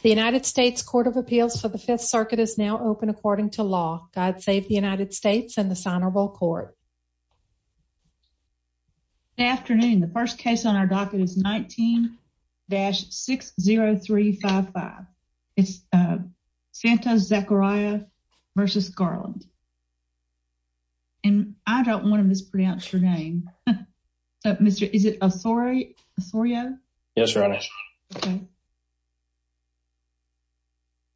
The United States Court of Appeals for the Fifth Circuit is now open according to law. God save the United States and this honorable court. Good afternoon. The first case on our docket is 19-60355. It's Santa-Zacaria v. Garland. And I don't want to mispronounce your name. Mr. Is it Osorio? Yes, Your Honor.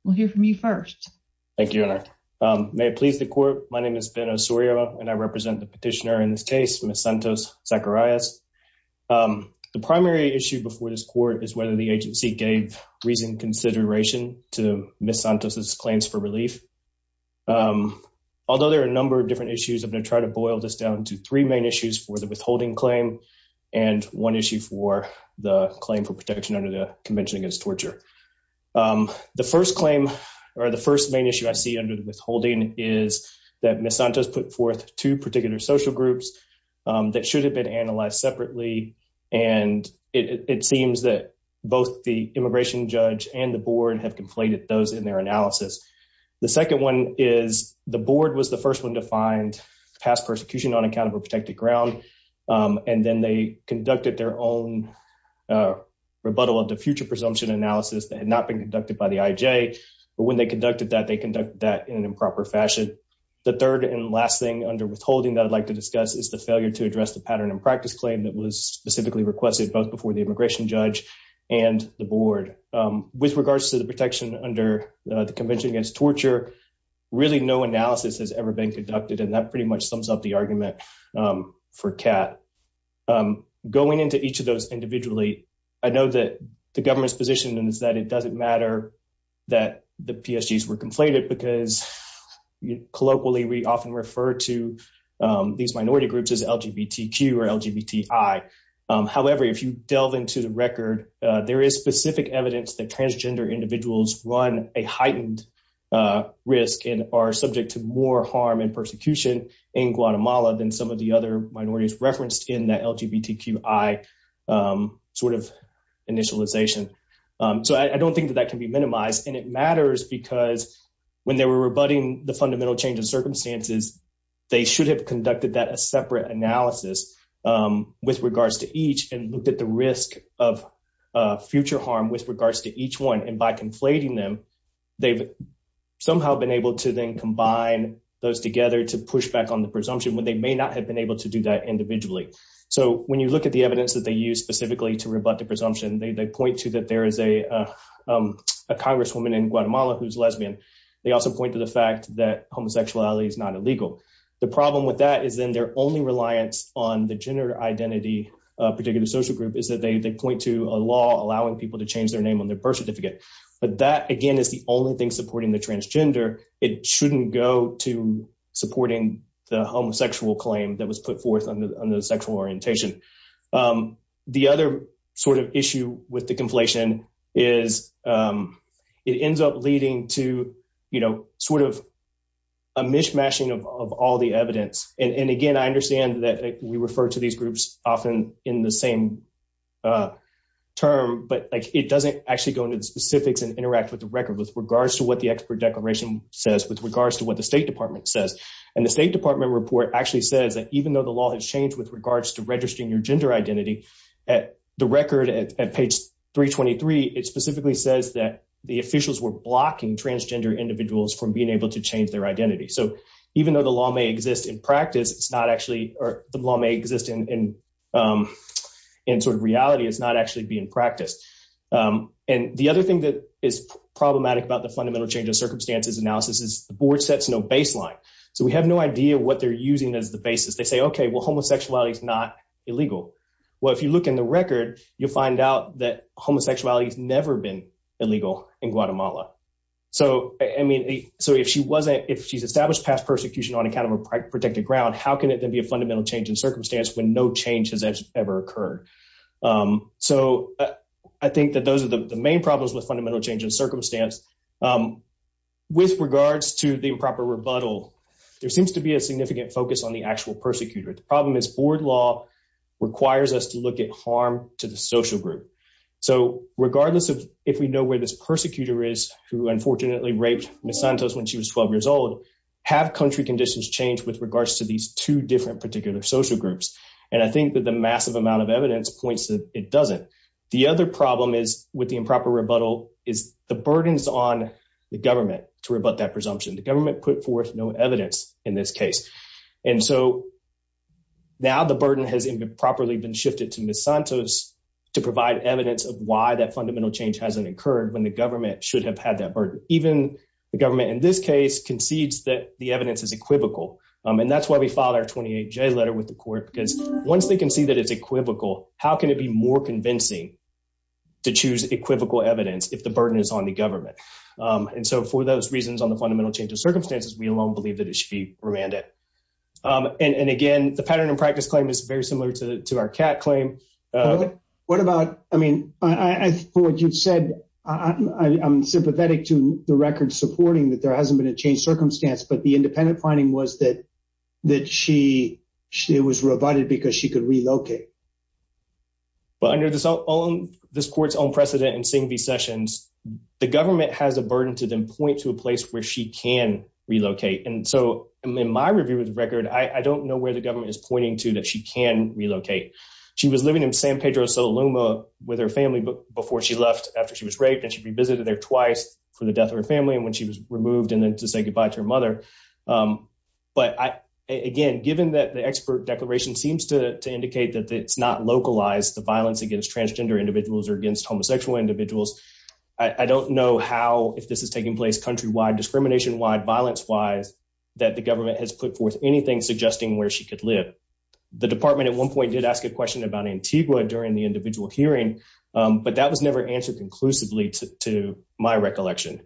We'll hear from you first. Thank you, Your Honor. May it please the court. My name is Ben Osorio and I represent the petitioner in this case, Ms. Santos-Zacarias. The primary issue before this court is whether the agency gave reasoned consideration to Ms. Santos' claims for relief. Although there are a number of different issues, I'm going to try to boil this down to three main issues for the withholding claim and one issue for the claim for protection under the Convention Against Torture. The first claim or the first main issue I see under the withholding is that Ms. Santos put forth two particular social groups that should have been analyzed separately and it seems that both the immigration judge and the board have conflated those in their analysis. The second one is the board was the first one to find past persecution on account of a protected ground and then they conducted their own rebuttal of the future presumption analysis that had not been conducted by the IJ, but when they conducted that, they conducted that in an improper fashion. The third and last thing under withholding that I'd like to discuss is the failure to address the pattern and practice claim that was specifically requested both before the immigration judge and the board. With regards to the protection under the Convention Against Torture, really no analysis has ever been conducted and that pretty much sums up the argument for CAT. Going into each of those individually, I know that the government's position is that it doesn't matter that the PSGs were conflated because colloquially, we often refer to these minority groups as LGBTQ or LGBTI. However, if you delve into the record, there is specific evidence that transgender individuals run a heightened risk and are subject to more harm and that LGBTQI sort of initialization. So I don't think that that can be minimized and it matters because when they were rebutting the fundamental change of circumstances, they should have conducted that a separate analysis with regards to each and looked at the risk of future harm with regards to each one and by conflating them, they've somehow been able to then combine those together to push back on the presumption when they may not have been able to do that individually. So when you look at the evidence that they use specifically to rebut the presumption, they point to that there is a Congresswoman in Guatemala who's lesbian. They also point to the fact that homosexuality is not illegal. The problem with that is then their only reliance on the gender identity particular social group is that they point to a law allowing people to change their name on their birth certificate. But that again is the only thing supporting the transgender. It shouldn't go to supporting the homosexual claim that was put forth under the sexual orientation. The other sort of issue with the conflation is it ends up leading to, you know, sort of a mishmashing of all the evidence and again, I understand that we refer to these groups often in the same term, but like it doesn't actually go into the specifics and interact with the record with regards to what the expert declaration says with regards to what the State Department says and the State Department report actually says that even though the law has changed with regards to registering your gender identity at the record at page 323. It specifically says that the officials were blocking transgender individuals from being able to change their identity. So even though the law may exist in practice, it's not actually or the law may exist in sort of reality. It's not actually being practiced and the other thing that is problematic about the fundamental change of circumstances analysis is the board sets no baseline. So we have no idea what they're using as the basis. They say, okay, well homosexuality is not illegal. Well, if you look in the record, you'll find out that homosexuality has never been illegal in Guatemala. So, I mean, so if she wasn't, if she's established past persecution on account of a protected ground, how can it then be a fundamental change in circumstance when no change has ever occurred? So I think that those are the main problems with fundamental change in circumstance. With regards to the improper rebuttal, there seems to be a significant focus on the actual persecutor. The problem is board law requires us to look at harm to the social group. So regardless of if we know where this persecutor is, who unfortunately raped Ms. Santos when she was 12 years old, have country conditions changed with regards to these two different particular social groups? And I think that the massive amount of evidence points that it doesn't. The other problem is with the improper rebuttal is the burdens on the government to rebut that presumption. The government put forth no evidence in this case. And so now the burden has improperly been shifted to Ms. Santos to provide evidence of why that fundamental change hasn't occurred when the government should have had that burden. Even the government in this case concedes that the evidence is equivocal. And that's why we filed our 28J letter with the court because once they concede that it's equivocal, how can it be more convincing to choose equivocal evidence if the burden is on the government? And so for those reasons on the fundamental change of circumstances, we alone believe that it should be remanded. And again, the pattern and practice claim is very similar to our CAT claim. What about, I mean, for what you've said, I'm sympathetic to the record supporting that there hasn't been a change circumstance, but the independent finding was that it was rebutted because she could relocate. But under this court's own precedent in Singh v. Sessions, the government has a burden to then point to a place where she can relocate. And so in my review of the record, I don't know where the government is pointing to that she can relocate. She was living in San Pedro Sula Loma with her family before she left after she was raped and she revisited there twice for the death of her family and when she was removed and then to say goodbye to her mother. But again, given that the expert declaration seems to indicate that it's not localized the violence against transgender individuals or against homosexual individuals. I don't know how, if this is taking place countrywide, discrimination wide, violence wise, that the government has put forth anything suggesting where she could live. The department at one point did ask a question about Antigua during the individual hearing, but that was never answered conclusively to my recollection.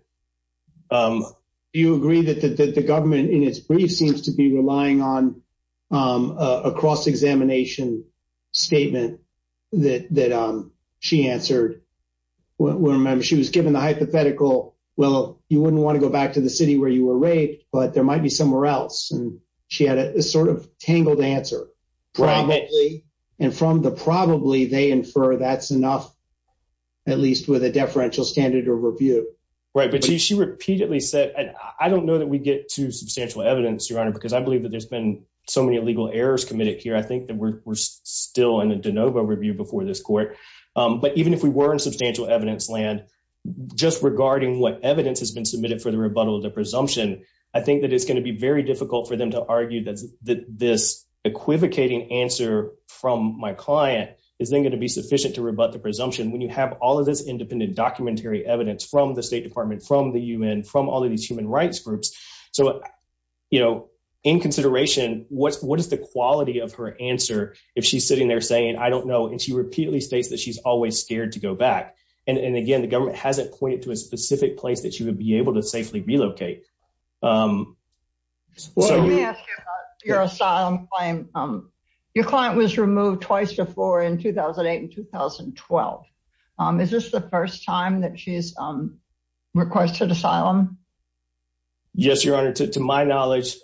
Do you agree that the government in its brief seems to be relying on a cross-examination statement that she answered? Remember, she was given the hypothetical, well, you wouldn't want to go back to the city where you were raped, but there might be somewhere else. And she had a sort of tangled answer. Probably. And from the probably, they infer that's enough, at least with a deferential standard or review. Right, but she repeatedly said, and I don't know that we get to substantial evidence, Your Honor, because I believe that there's been so many illegal errors committed here. I think that we're still in a de novo review before this court, but even if we were in substantial evidence land, just regarding what evidence has been submitted for the rebuttal of the presumption, I think that it's going to be very difficult for them to argue that this equivocating answer from my client is then going to be sufficient to rebut the presumption when you have all of this independent documentary evidence from the State Department, from the UN, from all of these human rights groups. So, you know, in consideration, what is the quality of her answer if she's sitting there saying, I don't know, and she repeatedly states that she's always scared to go back. And again, the government hasn't pointed to a specific place that she would be able to safely relocate. Your asylum claim. Your client was removed twice before in 2008 and 2012. Is this the first time that she's requested asylum? Yes, your honor. To my knowledge,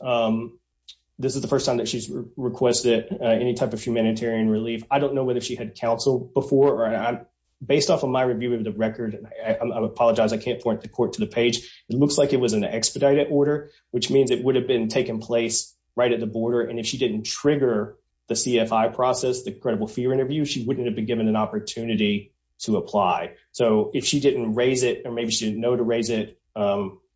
this is the first time that she's requested any type of humanitarian relief. I don't know whether she had counsel before or not. Based off of my review of the record, I apologize. I can't point the court to the page. It looks like it was an expedited order, which means it would have been taking place right at the border. And if she didn't trigger the CFI process, the credible fear interview, she wouldn't have been given an opportunity to apply. So if she didn't raise it, or maybe she didn't know to raise it,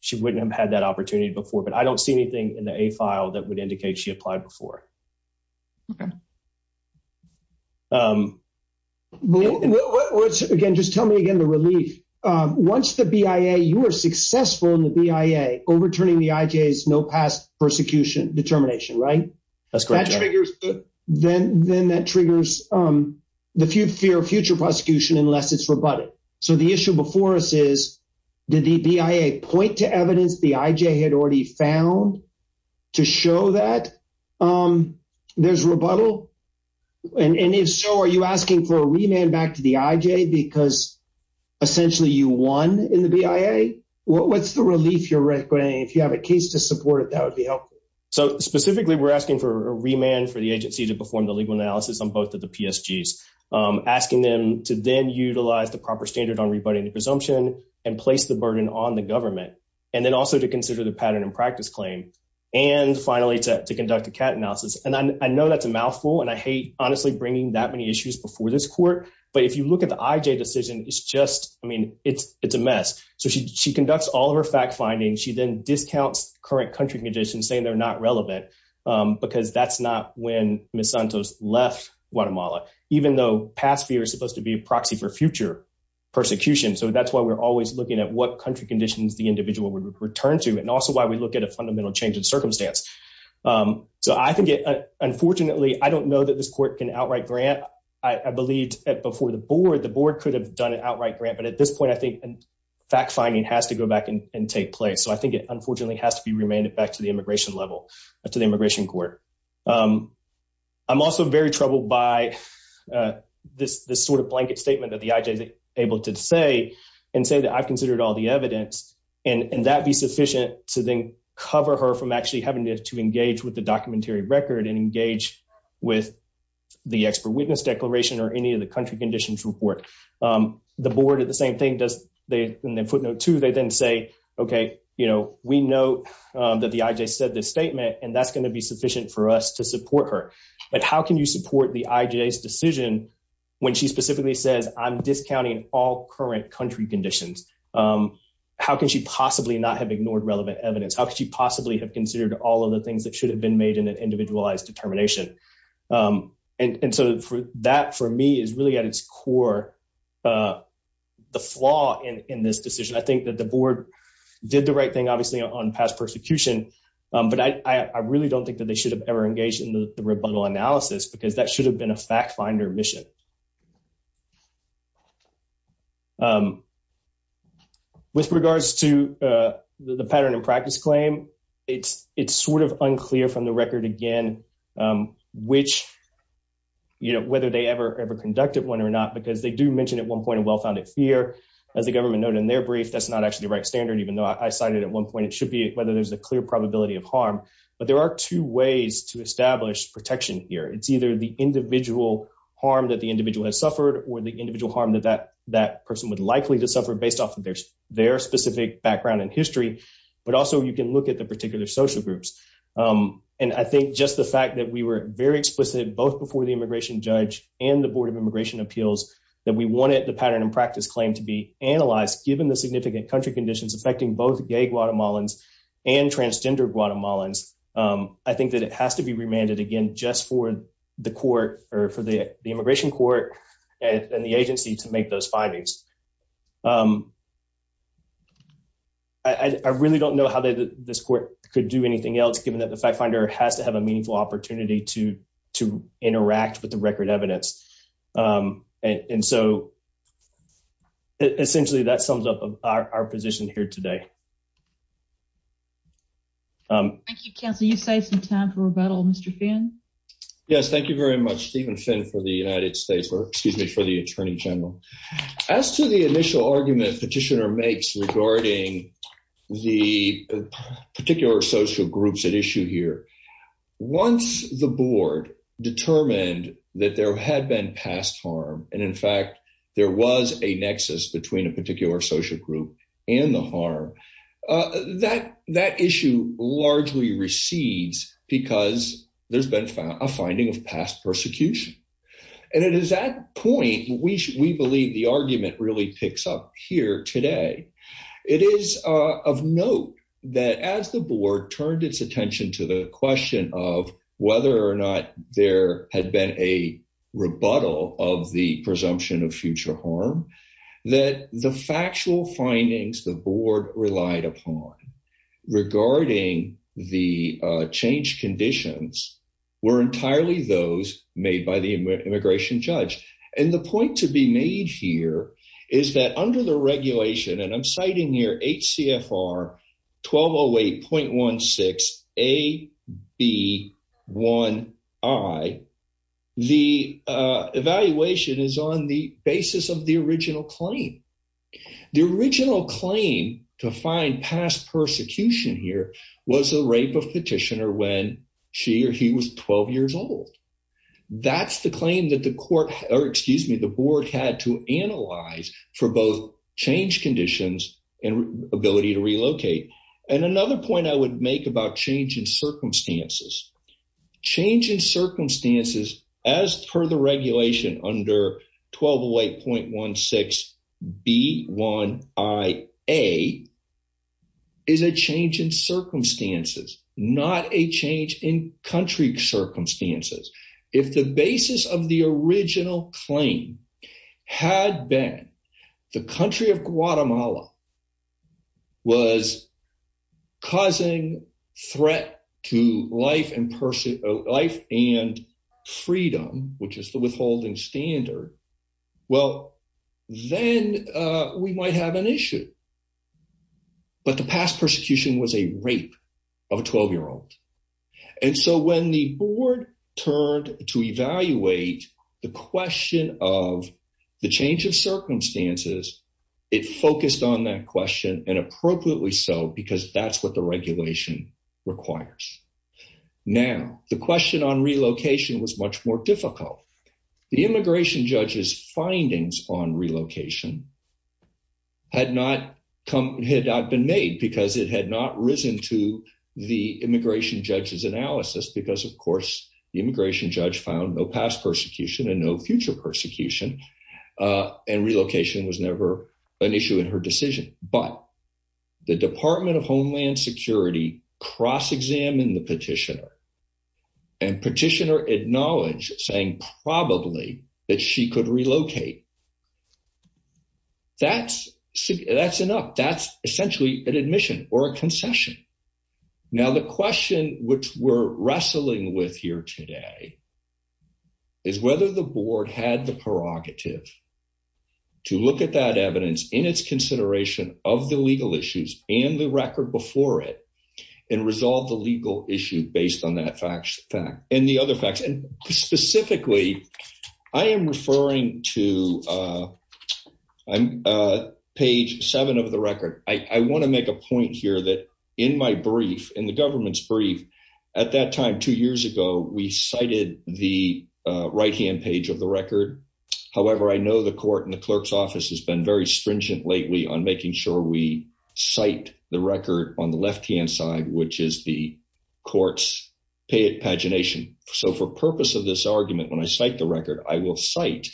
she wouldn't have had that opportunity before. But I don't see anything in the A file that would indicate she applied before. Okay. Again, just tell me again the relief. Once the BIA, you are successful in the BIA, overturning the IJ's no past persecution determination, right? That's correct. Then that triggers the fear of future prosecution unless it's rebutted. So the issue before us is, did the BIA point to evidence the IJ had already found to show that there's rebuttal? And if so, are you asking for a remand back to the IJ because essentially you won in the BIA? What's the relief you're requiring? If you have a case to support it, that would be helpful. So specifically, we're asking for a remand for the agency to perform the legal analysis on both of the PSGs, asking them to then utilize the proper standard on rebutting the presumption and place the burden on the government, and then also to consider the pattern and practice claim, and finally to conduct a CAT analysis. And I know that's a mouthful, and I hate honestly bringing that many issues before this court. But if you look at the IJ decision, it's just, I mean, it's a mess. So she conducts all of her fact-finding. She then discounts current country conditions, saying they're not relevant because that's not when Ms. Santos left Guatemala, even though past fear is supposed to be a proxy for future persecution. So that's why we're always looking at what country conditions the individual would return to, and also why we look at a fundamental change in circumstance. So I think it, unfortunately, I don't know that this court can outright grant. I believed that before the board, the board could have done an outright grant. But at this point, I think fact-finding has to go back and take place. So I think it, unfortunately, has to be remanded back to the immigration level, to the immigration court. I'm also very troubled by this sort of blanket statement that the IJ is able to say, and say that I've considered all the evidence, and that be sufficient to then cover her from actually having to engage with the documentary record and engage with the expert witness declaration or any of the country conditions report. The board, at the same thing, does, in their footnote two, they then say, okay, you know, we know that the IJ said this statement, and that's going to be sufficient for us to support her. But how can you support the IJ's decision when she specifically says, I'm discounting all current country conditions? How can she possibly not have ignored relevant evidence? How could she possibly have considered all of the things that should have been made in an individualized determination? And so that, for me, is really at its core the flaw in this decision. I think that the board did the right thing, obviously, on past persecution, but I really don't think that they should have ever engaged in the rebuttal analysis, because that should have been a fact-finder mission. With regards to the pattern of practice claim, it's sort of unclear from the record, again, which, you know, whether they ever conducted one or not, because they do mention at one point a well-founded fear. As the government noted in their brief, that's not actually the right standard, even though I cited at one point, it should be whether there's a clear probability of harm. But there are two ways to establish protection here. It's either the individual harm that the individual has suffered or the individual harm that that person would likely to suffer based off of their specific background and history, but also you can look at the particular social groups. And I think just the fact that we were very explicit both before the immigration judge and the Board of Immigration Appeals that we wanted the pattern of practice claim to be analyzed, given the significant country conditions affecting both gay Guatemalans and transgender Guatemalans, I think that it has to be remanded, again, just for the court or for the immigration court and the agency to make those findings. I really don't know how this court could do anything else, given that the fact-finder has to have a meaningful opportunity to interact with the record evidence. And so, essentially, that sums up our position here today. Thank you, counsel. You saved some time for rebuttal, Mr. Finn. Yes, thank you very much, Stephen Finn, for the United States, or excuse me, for the Attorney General. As to the initial argument petitioner makes regarding the particular social groups at issue here, once the board determined that there had been past harm, and in fact, there was a nexus between a particular social group and the harm, that issue largely recedes because there's been a finding of past persecution. And it is at that point we believe the argument really picks up here today. It is of note that as the board turned its attention to the question of whether or not there had been a rebuttal of the presumption of future harm, that the factual findings the board relied upon regarding the change conditions were entirely those made by the immigration judge. And the point to be made here is that under the regulation, and I'm citing here HCFR 1208.16 AB1I, the evaluation is on the basis of the original claim. The original claim to find past persecution here was a rape of petitioner when she or he was 12 years old. That's the claim that the board had to analyze for both change conditions and ability to relocate. And another point I would make about change in circumstances. Change in circumstances as per the regulation under 1208.16B1IA is a change in circumstances, not a change in country circumstances. If the basis of the original claim had been the country of Guatemala was causing threat to life and freedom, which is the withholding standard. Well, then we might have an issue. But the past persecution was a rape of a 12 year old. And so when the board turned to evaluate the question of the change of circumstances, it focused on that question and appropriately so because that's what the regulation requires. Now, the question on relocation was much more difficult. The immigration judge's findings on relocation had not come, had not been made because it had not risen to the immigration judge's analysis because of course, the immigration judge found no past persecution and no future persecution and relocation was never an issue in her decision. But the Department of Homeland Security cross-examined the petitioner and petitioner acknowledged saying probably that she could relocate. That's enough. That's essentially an admission or a concession. Now the question which we're wrestling with here today is whether the board had the prerogative to look at that evidence in its consideration of the legal issues and the record before it and resolve the legal issue based on that fact and the other facts and specifically, I am referring to page 7 of the record. I want to make a point here that in my brief, in the government's brief, at that time two years ago, we cited the right-hand page of the record. However, I know the court and the clerk's office has been very stringent lately on making sure we cite the record on the left-hand side, which is the court's pagination. So for purpose of this argument, when I cite the record, I will cite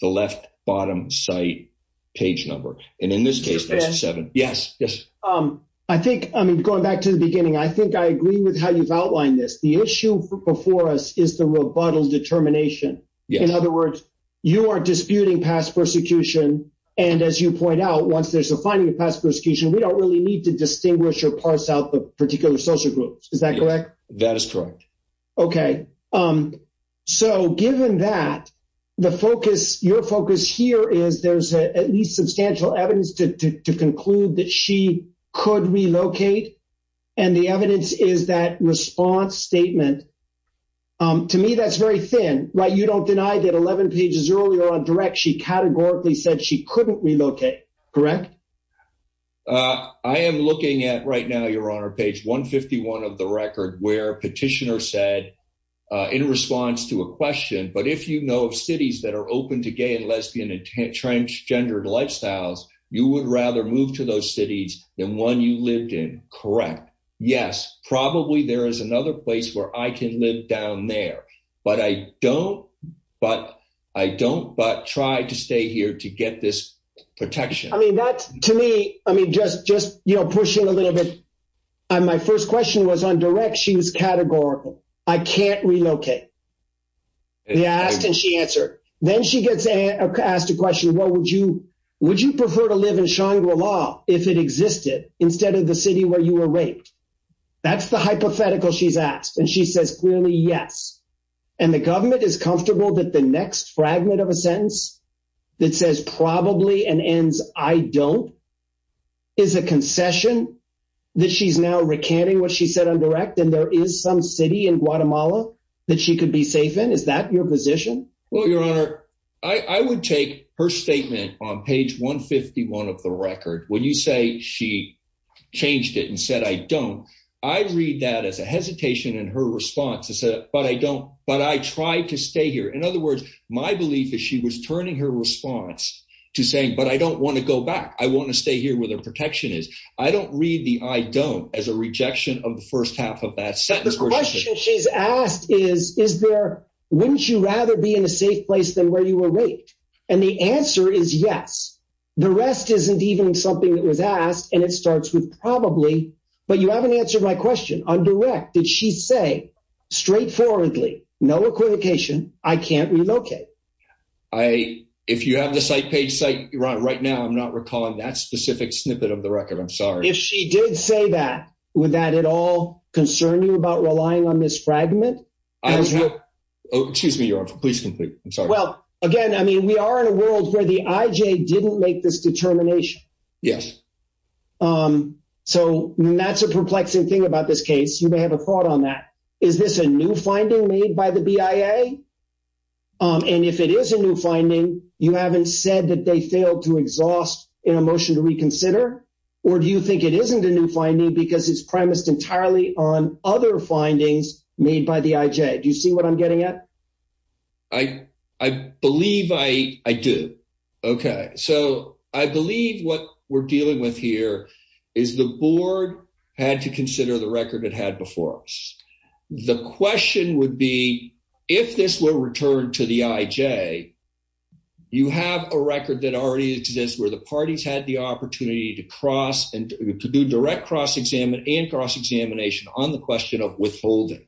the left bottom site page number and in this case, that's 7. Yes. Yes. I think, I mean going back to the beginning, I think I agree with how you've outlined this. The issue before us is the rebuttal determination. In other words, you are disputing past persecution and as you point out, once there's a finding of past persecution, we don't really need to distinguish or parse out the particular social groups. Is that correct? That is correct. Okay. So given that, the focus, your focus here is there's at least substantial evidence to conclude that she could relocate and the evidence is that response statement. To me, that's very thin, right? You don't deny that 11 pages earlier on direct, she categorically said she couldn't relocate, correct? I am looking at right now, your honor, page 151 of the record where petitioner said in response to a question, but if you know of cities that are open to gay and lesbian and transgendered lifestyles, you would rather move to those cities than one you lived in, correct? Yes, probably there is another place where I can live down there, but I don't, but I don't but try to stay here to get this protection. I mean, that's to me. I mean, just, just, you know, pushing a little bit. And my first question was on direct. She was categorical. I can't relocate. Yeah, I asked and she answered. Then she gets asked a question. What would you, would you prefer to live in Shangri-La if it existed instead of the city where you were raped? That's the hypothetical she's asked and she says clearly, yes, and the government is comfortable that the next fragment of a I don't is a concession that she's now recanting what she said on direct and there is some city in Guatemala that she could be safe in. Is that your position? Well, your honor, I would take her statement on page 151 of the record. When you say she changed it and said, I don't, I read that as a hesitation in her response. I said, but I don't, but I try to stay here. In other words, my belief is she was turning her response to saying, but I don't want to go back. I want to stay here where their protection is. I don't read the I don't as a rejection of the first half of that sentence. The question she's asked is, is there, wouldn't you rather be in a safe place than where you were raped? And the answer is yes, the rest isn't even something that was asked and it starts with probably, but you haven't answered my question on direct. Did she say straightforwardly, no equivocation. I can't relocate. I, if you have the site page site, you're on right now. I'm not recalling that specific snippet of the record. I'm sorry. If she did say that, would that at all concern you about relying on this fragment? Excuse me, your honor, please conclude. I'm sorry. Well again, I mean, we are in a world where the IJ didn't make this determination. Yes. So that's a perplexing thing about this case. You may have a thought on that. Is this a new finding made by the BIA? And if it is a new finding, you haven't said that they failed to exhaust in a motion to reconsider or do you think it isn't a new finding because it's premised entirely on other findings made by the IJ. Do you see what I'm getting at? I, I believe I, I do. Okay. So I believe what we're dealing with here is the board had to consider the record it had before us. The question would be if this were returned to the IJ, you have a record that already exists where the parties had the opportunity to cross and to do direct cross-examine and cross-examination on the question of withholding.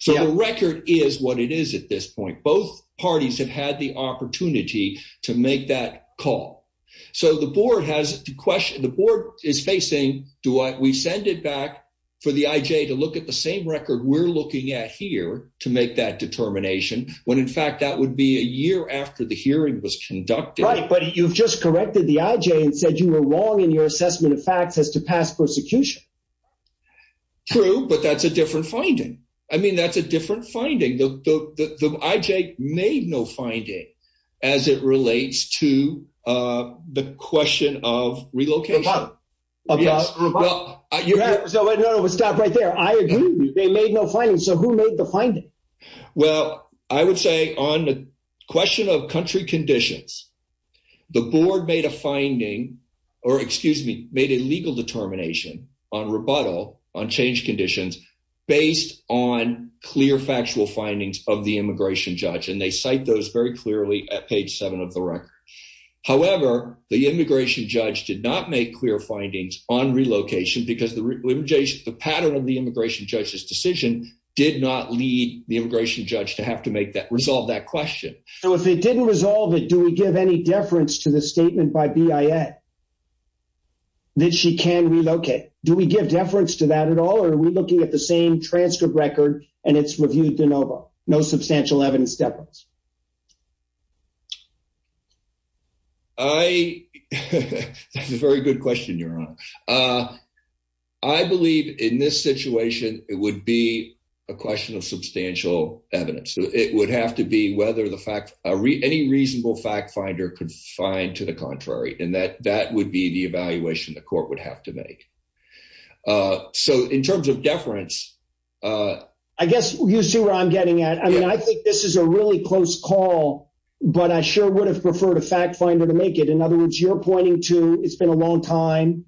So the record is what it is at this point. Both parties have had the opportunity to make that call. So the board has to question, the board is facing, do I, we we're looking at here to make that determination when in fact that would be a year after the hearing was conducted. Right, but you've just corrected the IJ and said you were wrong in your assessment of facts as to past persecution. True, but that's a different finding. I mean, that's a different finding. The IJ made no finding as it relates to the question of relocation. Yes. You have to stop right there. I agree. They made no finding. So who made the finding? Well, I would say on the question of country conditions, the board made a finding or excuse me, made a legal determination on rebuttal on change conditions based on clear factual findings of the immigration judge and they cite those very clearly at page 7 of the record. However, the immigration judge did not make clear findings on relocation because the pattern of the immigration judge's decision did not lead the immigration judge to have to make that resolve that question. So if it didn't resolve it, do we give any deference to the statement by BIA that she can relocate? Do we give deference to that at all or are we looking at the same transcript record and it's reviewed de novo, no substantial evidence deference? I, that's a very good question, Your Honor. I believe in this situation, it would be a question of substantial evidence. So it would have to be whether the fact any reasonable fact finder could find to the contrary and that that would be the evaluation the court would have to make. So in terms of deference, I guess you see where I'm getting at. I mean, I think this is a really close call, but I sure would have preferred a fact finder to make it. In other words, you're pointing to it's been a long time.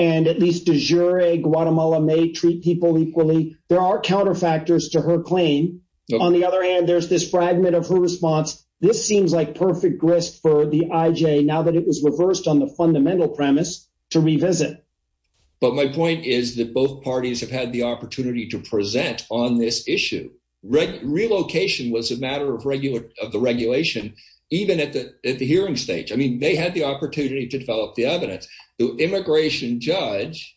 And at least de jure, Guatemala may treat people equally. There are counterfactors to her claim. On the other hand, there's this fragment of her response. This seems like perfect risk for the IJ now that it was reversed on the fundamental premise to revisit. But my point is that both parties have had the opportunity to present on this issue. Relocation was a matter of regular of the regulation, even at the hearing stage. I mean, they had the opportunity to develop the evidence. The immigration judge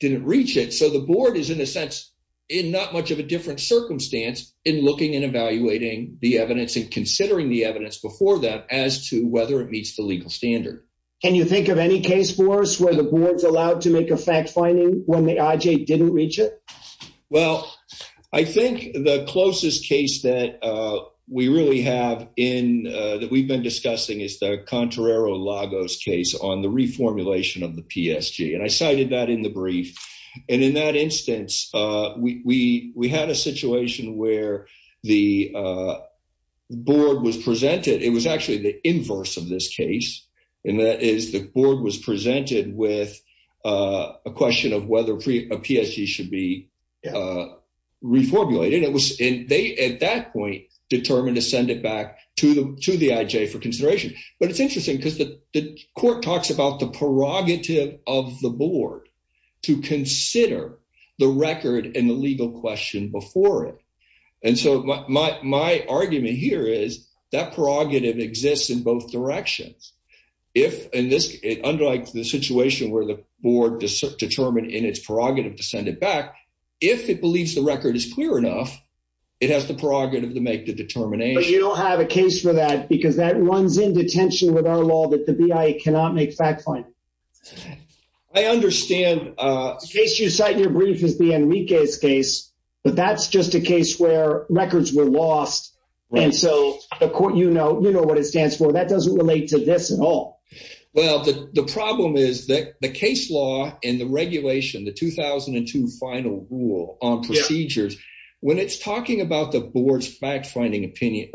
didn't reach it. So the board is in a sense in not much of a different circumstance in looking and evaluating the evidence and considering the evidence before that as to whether it meets the legal standard. Can you think of any case for us where the board's allowed to make a fact finding when the IJ didn't reach it? Well, I think the closest case that we really have in that we've been discussing is the Contrero-Lagos case on the reformulation of the PSG. And I cited that in the brief and in that instance, we had a situation where the board was presented. It was actually the inverse of this case and that is the board was presented with a question of whether a PSG should be reformulated. It was and they at that point determined to send it back to the IJ for consideration. But it's interesting because the court talks about the prerogative of the board to consider the record and the legal question before it. And so my argument here is that prerogative exists in both directions. If in this, it underlies the situation where the board determined in its prerogative to send it back. If it believes the record is clear enough, it has the prerogative to make the determination. You don't have a case for that because that runs into tension with our law that the BIA cannot make fact-finding. I understand. Case you cite in your brief is the Enriquez case, but that's just a case where records were lost. And so the court, you know, you know what it stands for that doesn't relate to this at all. Well, the problem is that the case law and the regulation, the 2002 final rule on procedures when it's talking about the board's fact-finding opinion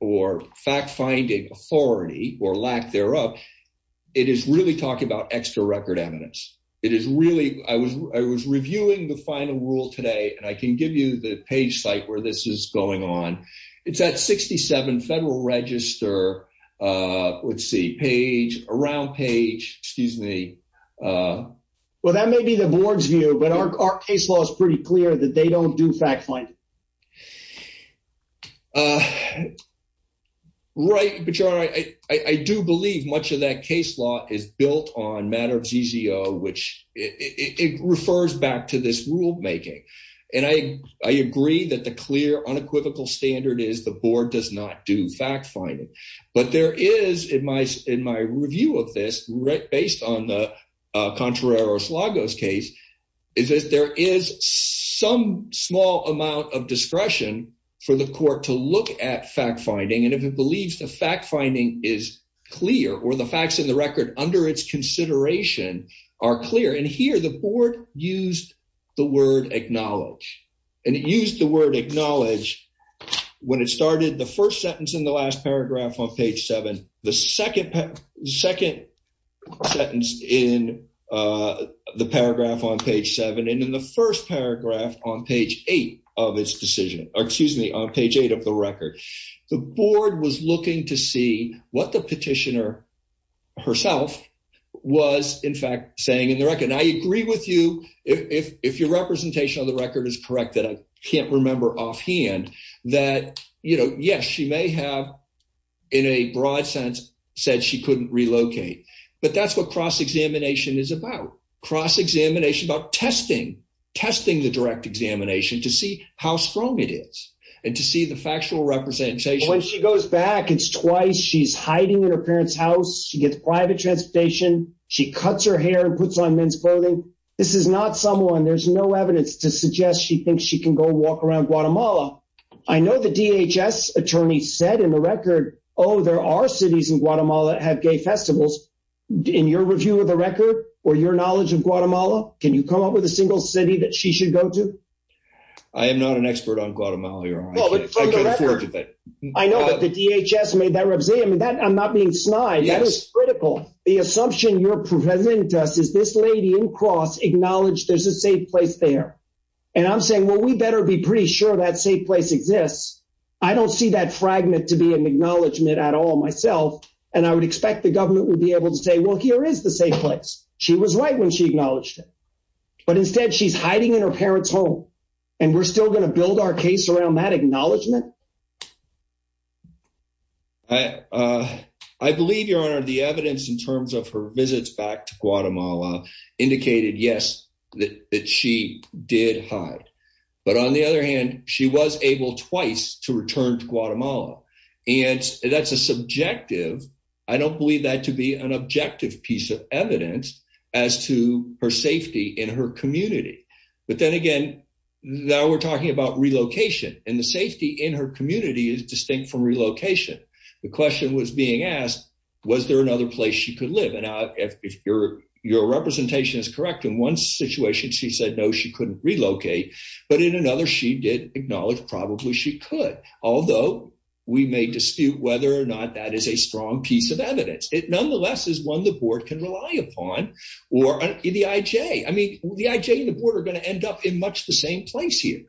or fact-finding authority or lack thereof. It is really talking about extra record eminence. It is really I was reviewing the final rule today and I can give you the page site where this is going on. It's at 67 Federal Register. Let's see page around page, excuse me. Well, that may be the board's view but our case law is pretty clear that they don't do fact-finding. Right, but you're right. I do believe much of that case law is built on matter of ZZO, which it refers back to this rulemaking and I agree that the clear unequivocal standard is the board does not do fact-finding but there is in my review of this based on the Contreras-Lagos case is that there is some small amount of discretion for the court to look at fact-finding and if it believes the fact-finding is clear or the facts in the record under its consideration are clear and here the board used the word acknowledge and it used the word acknowledge when it started the first sentence in the last paragraph on page 7, the second second sentence in the paragraph on page 7 and in the first paragraph on page 8 of its decision or excuse me on page 8 of the record the board was looking to see what the petitioner herself was in fact saying in the record and I agree with you if your representation of the record is correct that I can't remember offhand that you know, yes, she may have in a broad sense said she couldn't relocate but that's what cross-examination is about cross-examination about testing testing the direct examination to see how strong it is and to see the factual representation when she goes back it's twice. She's hiding in her parents house. She gets private transportation. She cuts her hair and puts on men's clothing. This is not someone there's no evidence to suggest. She thinks she can go walk around Guatemala. I know the DHS attorney said in the record. Oh, there are cities in Guatemala have gay festivals in your review of the record or your knowledge of Guatemala. Can you come up with a single city that she should go to? I am not an expert on Guatemala. I know that the DHS made that review that I'm not being snide that is critical the assumption you're presenting to us is this lady in cross acknowledge. There's a safe place there and I'm saying what we better be pretty sure that safe place exists. I don't see that fragment to be an acknowledgement at all myself and I would expect the government would be able to say well here is the safe place. She was right when she acknowledged it, but instead she's hiding in her parents home and we're still going to build our case around that acknowledgement. I believe your honor the evidence in terms of her visits back to Guatemala indicated. Yes that she did hide but on the other hand, she was able twice to return to Guatemala and that's a subjective. I don't believe that to be an objective piece of evidence as to her safety in her community. But then again that we're talking about relocation in the safety in her community is distinct from relocation. The question was being asked was there another place you could live and out if you're your representation is correct in one situation. She said no she couldn't relocate but in another she did acknowledge probably she could although we may dispute whether or not that is a strong piece of evidence. It nonetheless is one the board can rely upon or the IJ. I mean the IJ and the board are going to end up in much the same place here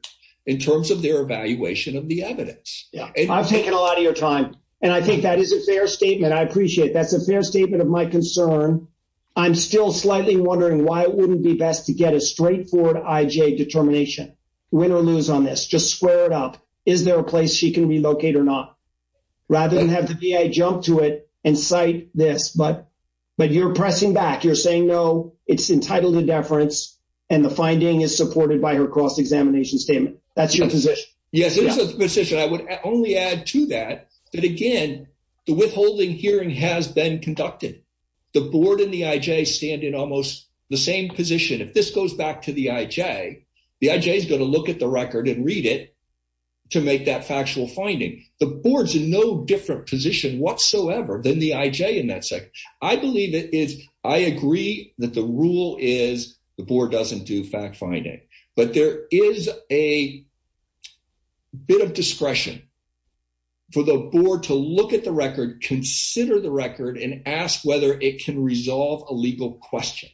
in terms of their evaluation of the evidence. Yeah, I've taken a lot of your time and I think that is a fair statement. I appreciate that's a fair statement of my concern. I'm still slightly wondering why it wouldn't be best to get a straightforward IJ determination win or lose on this just square it up. Is there a place she can be located or not rather than have to be a jump to it and cite this but but you're pressing back you're saying no it's entitled to deference and the finding is supported by her cross-examination statement. That's your position. Yes, it's a position. I would only add to that that again the withholding hearing has been conducted the board in the IJ stand in almost the same position. If this goes back to the IJ the IJ is going to look at the record and read it to make that factual finding the boards in no different position whatsoever than the IJ in that second. I believe it is I agree that the rule is the board doesn't do fact-finding but there is a bit of discretion for the board to look at the record consider the record and ask whether it can resolve a legal question.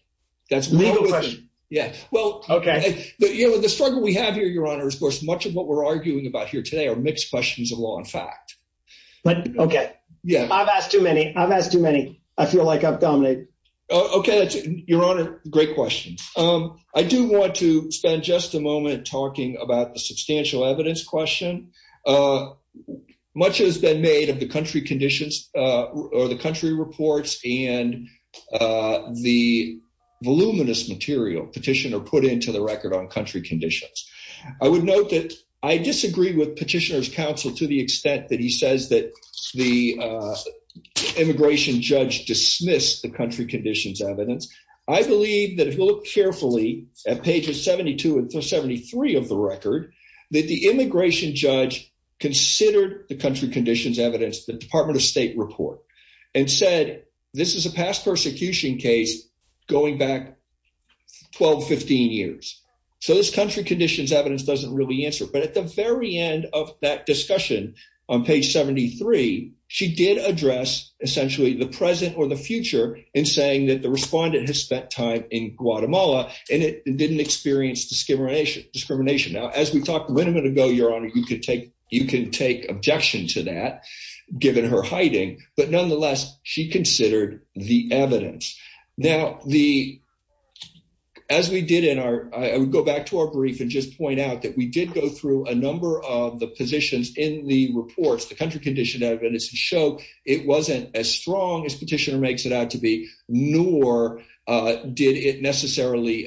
That's legal question. Yeah. Well, okay, but you know what the struggle we have here your honor's course much of what we're arguing about here today are mixed questions of law and fact, but okay. Yeah, I've asked too many. I've asked too many. I feel like I've dominated. Okay, that's your honor. Great questions. I do want to spend just a moment talking about the substantial evidence question much has been made of the country conditions or the country reports and the voluminous material petition or put into the record on country conditions. I would note that I disagree with petitioners counsel to the extent that he says that the immigration judge dismissed the country conditions evidence. I believe that if you look carefully at pages 72 and 773 of the record that the immigration judge considered the country conditions evidence the Department of State report and said this is a past persecution case going back 1215 years. So this country conditions evidence doesn't really answer but at the very end of that discussion on page 73, she did address essentially the present or the future in saying that the respondent has spent time in Guatemala and it didn't experience discrimination discrimination. Now as we talked a minute ago, your honor, you could take you Nonetheless, she considered the evidence now the as we did in our I would go back to our brief and just point out that we did go through a number of the positions in the reports the country condition evidence and show it wasn't as strong as petitioner makes it out to be nor did it necessarily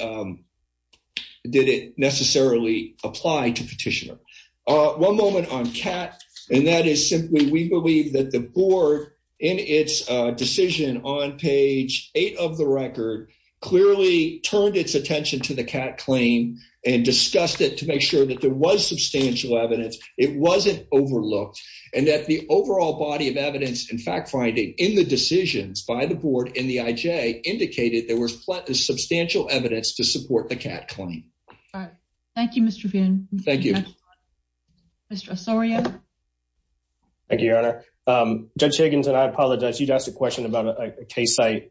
did it necessarily apply to petitioner one moment on cat and that is simply we believe that the board in its decision on page eight of the record clearly turned its attention to the cat claim and discussed it to make sure that there was substantial evidence. It wasn't overlooked and that the overall body of evidence and fact-finding in the decisions by the board in the IJ indicated there was plenty of substantial evidence to support the cat Thank you, Mr. Finn. Thank you. Sorry. Thank you, your honor. Judge Higgins and I apologize. You just a question about a case site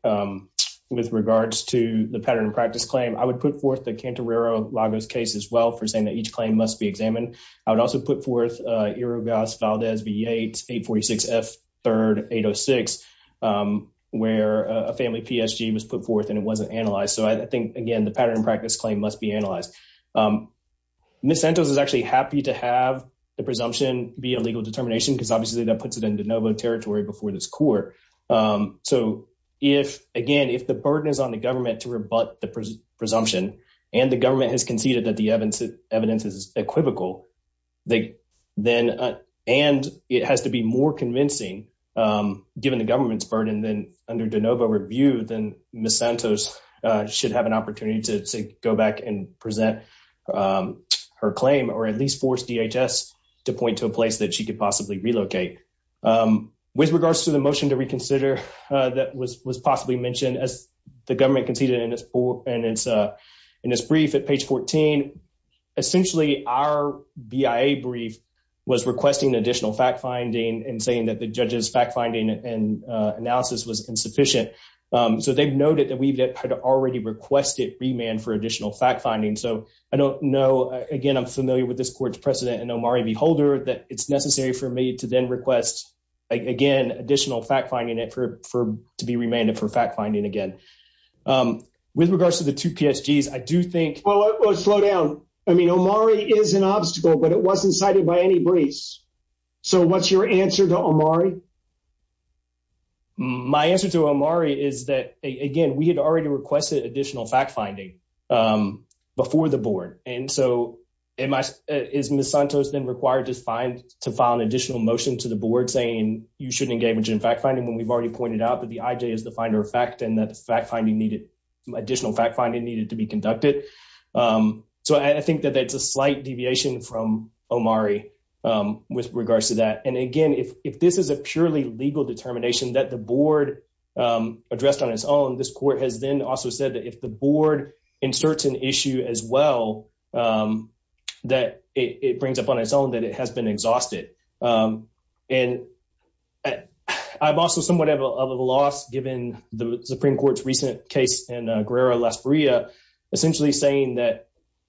with regards to the pattern practice claim. I would put forth the Cantarero Lagos case as well for saying that each claim must be examined. I would also put forth Erogas Valdez V8 846 F 3rd 806 where a family PSG was put forth and it wasn't analyzed. So I think again, the pattern practice claim must be analyzed. Ms. Santos is actually happy to have the presumption be a legal determination because obviously that puts it in de novo territory before this court. So if again, if the burden is on the government to rebut the presumption and the government has conceded that the evidence of evidence is equivocal then and it has to be more convincing given the government's burden then under de novo review then Ms. Santos should have an opportunity to go back and present her claim or at least force DHS to point to a place that she could possibly relocate. With regards to the motion to reconsider that was possibly mentioned as the government conceded in this brief at page 14 essentially our BIA brief was requesting additional fact-finding and saying that the judge's fact-finding and analysis was insufficient. So they've noted that we've had already requested remand for additional fact-finding. So I don't know again. I'm familiar with this court's precedent and Omari Beholder that it's necessary for me to then request again additional fact-finding it for to be remanded for fact-finding again. With regards to the two PSGs, I do think slow down. I mean Omari is an obstacle, but it wasn't cited by any briefs. So what's your answer to Omari? My answer to Omari is that again, we had already requested additional fact-finding before the board. And so is Ms. Santos then required to file an additional motion to the board saying you shouldn't engage in fact-finding when we've already pointed out that the IJ is the finder of fact and that additional fact-finding needed to be conducted. So I think that it's a slight deviation from Omari with regards to that. And again, if this is a purely legal determination that the board addressed on its own, this court has then also said that if the board inserts an issue as well, that it brings up on its own that it has been exhausted. And I've also somewhat of a loss given the Supreme Court's recent case in Guerrero-Las Barrias essentially saying that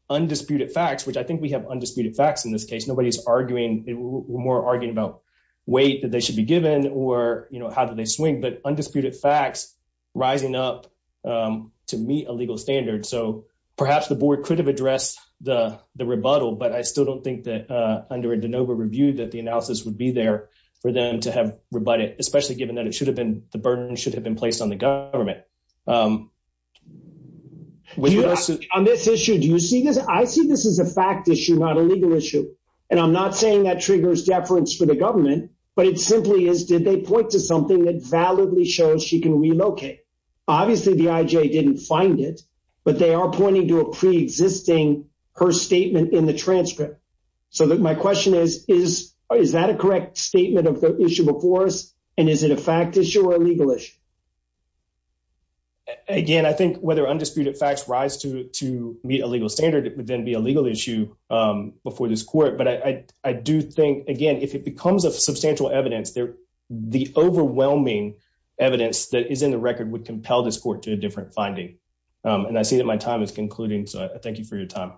undisputed facts, which I think we have undisputed facts in this case, nobody's arguing, more arguing about weight that they should be given or how do they swing, but undisputed facts rising up to meet a legal standard. So perhaps the board could have addressed the rebuttal, but I still don't think that under a de novo review that the analysis would be there for them to have rebut it, especially given that it should have been, the burden should have been placed on the government. On this issue, do you see this? I see this as a fact issue, not a legal issue. And I'm not saying that triggers deference for the government, but it simply is, did they point to something that validly shows she can relocate? Obviously the IJ didn't find it, but they are pointing to a pre-existing, her statement in the transcript. So that my question is, is that a correct statement of the issue before us? And is it a fact issue or a legal issue? Again, I think whether undisputed facts rise to meet a legal standard, it would then be a legal issue before this court. But I do think again, if it becomes a substantial evidence there, the overwhelming evidence that is in the record would compel this court to a different finding. And I see that my time is concluding. So I thank you for your time.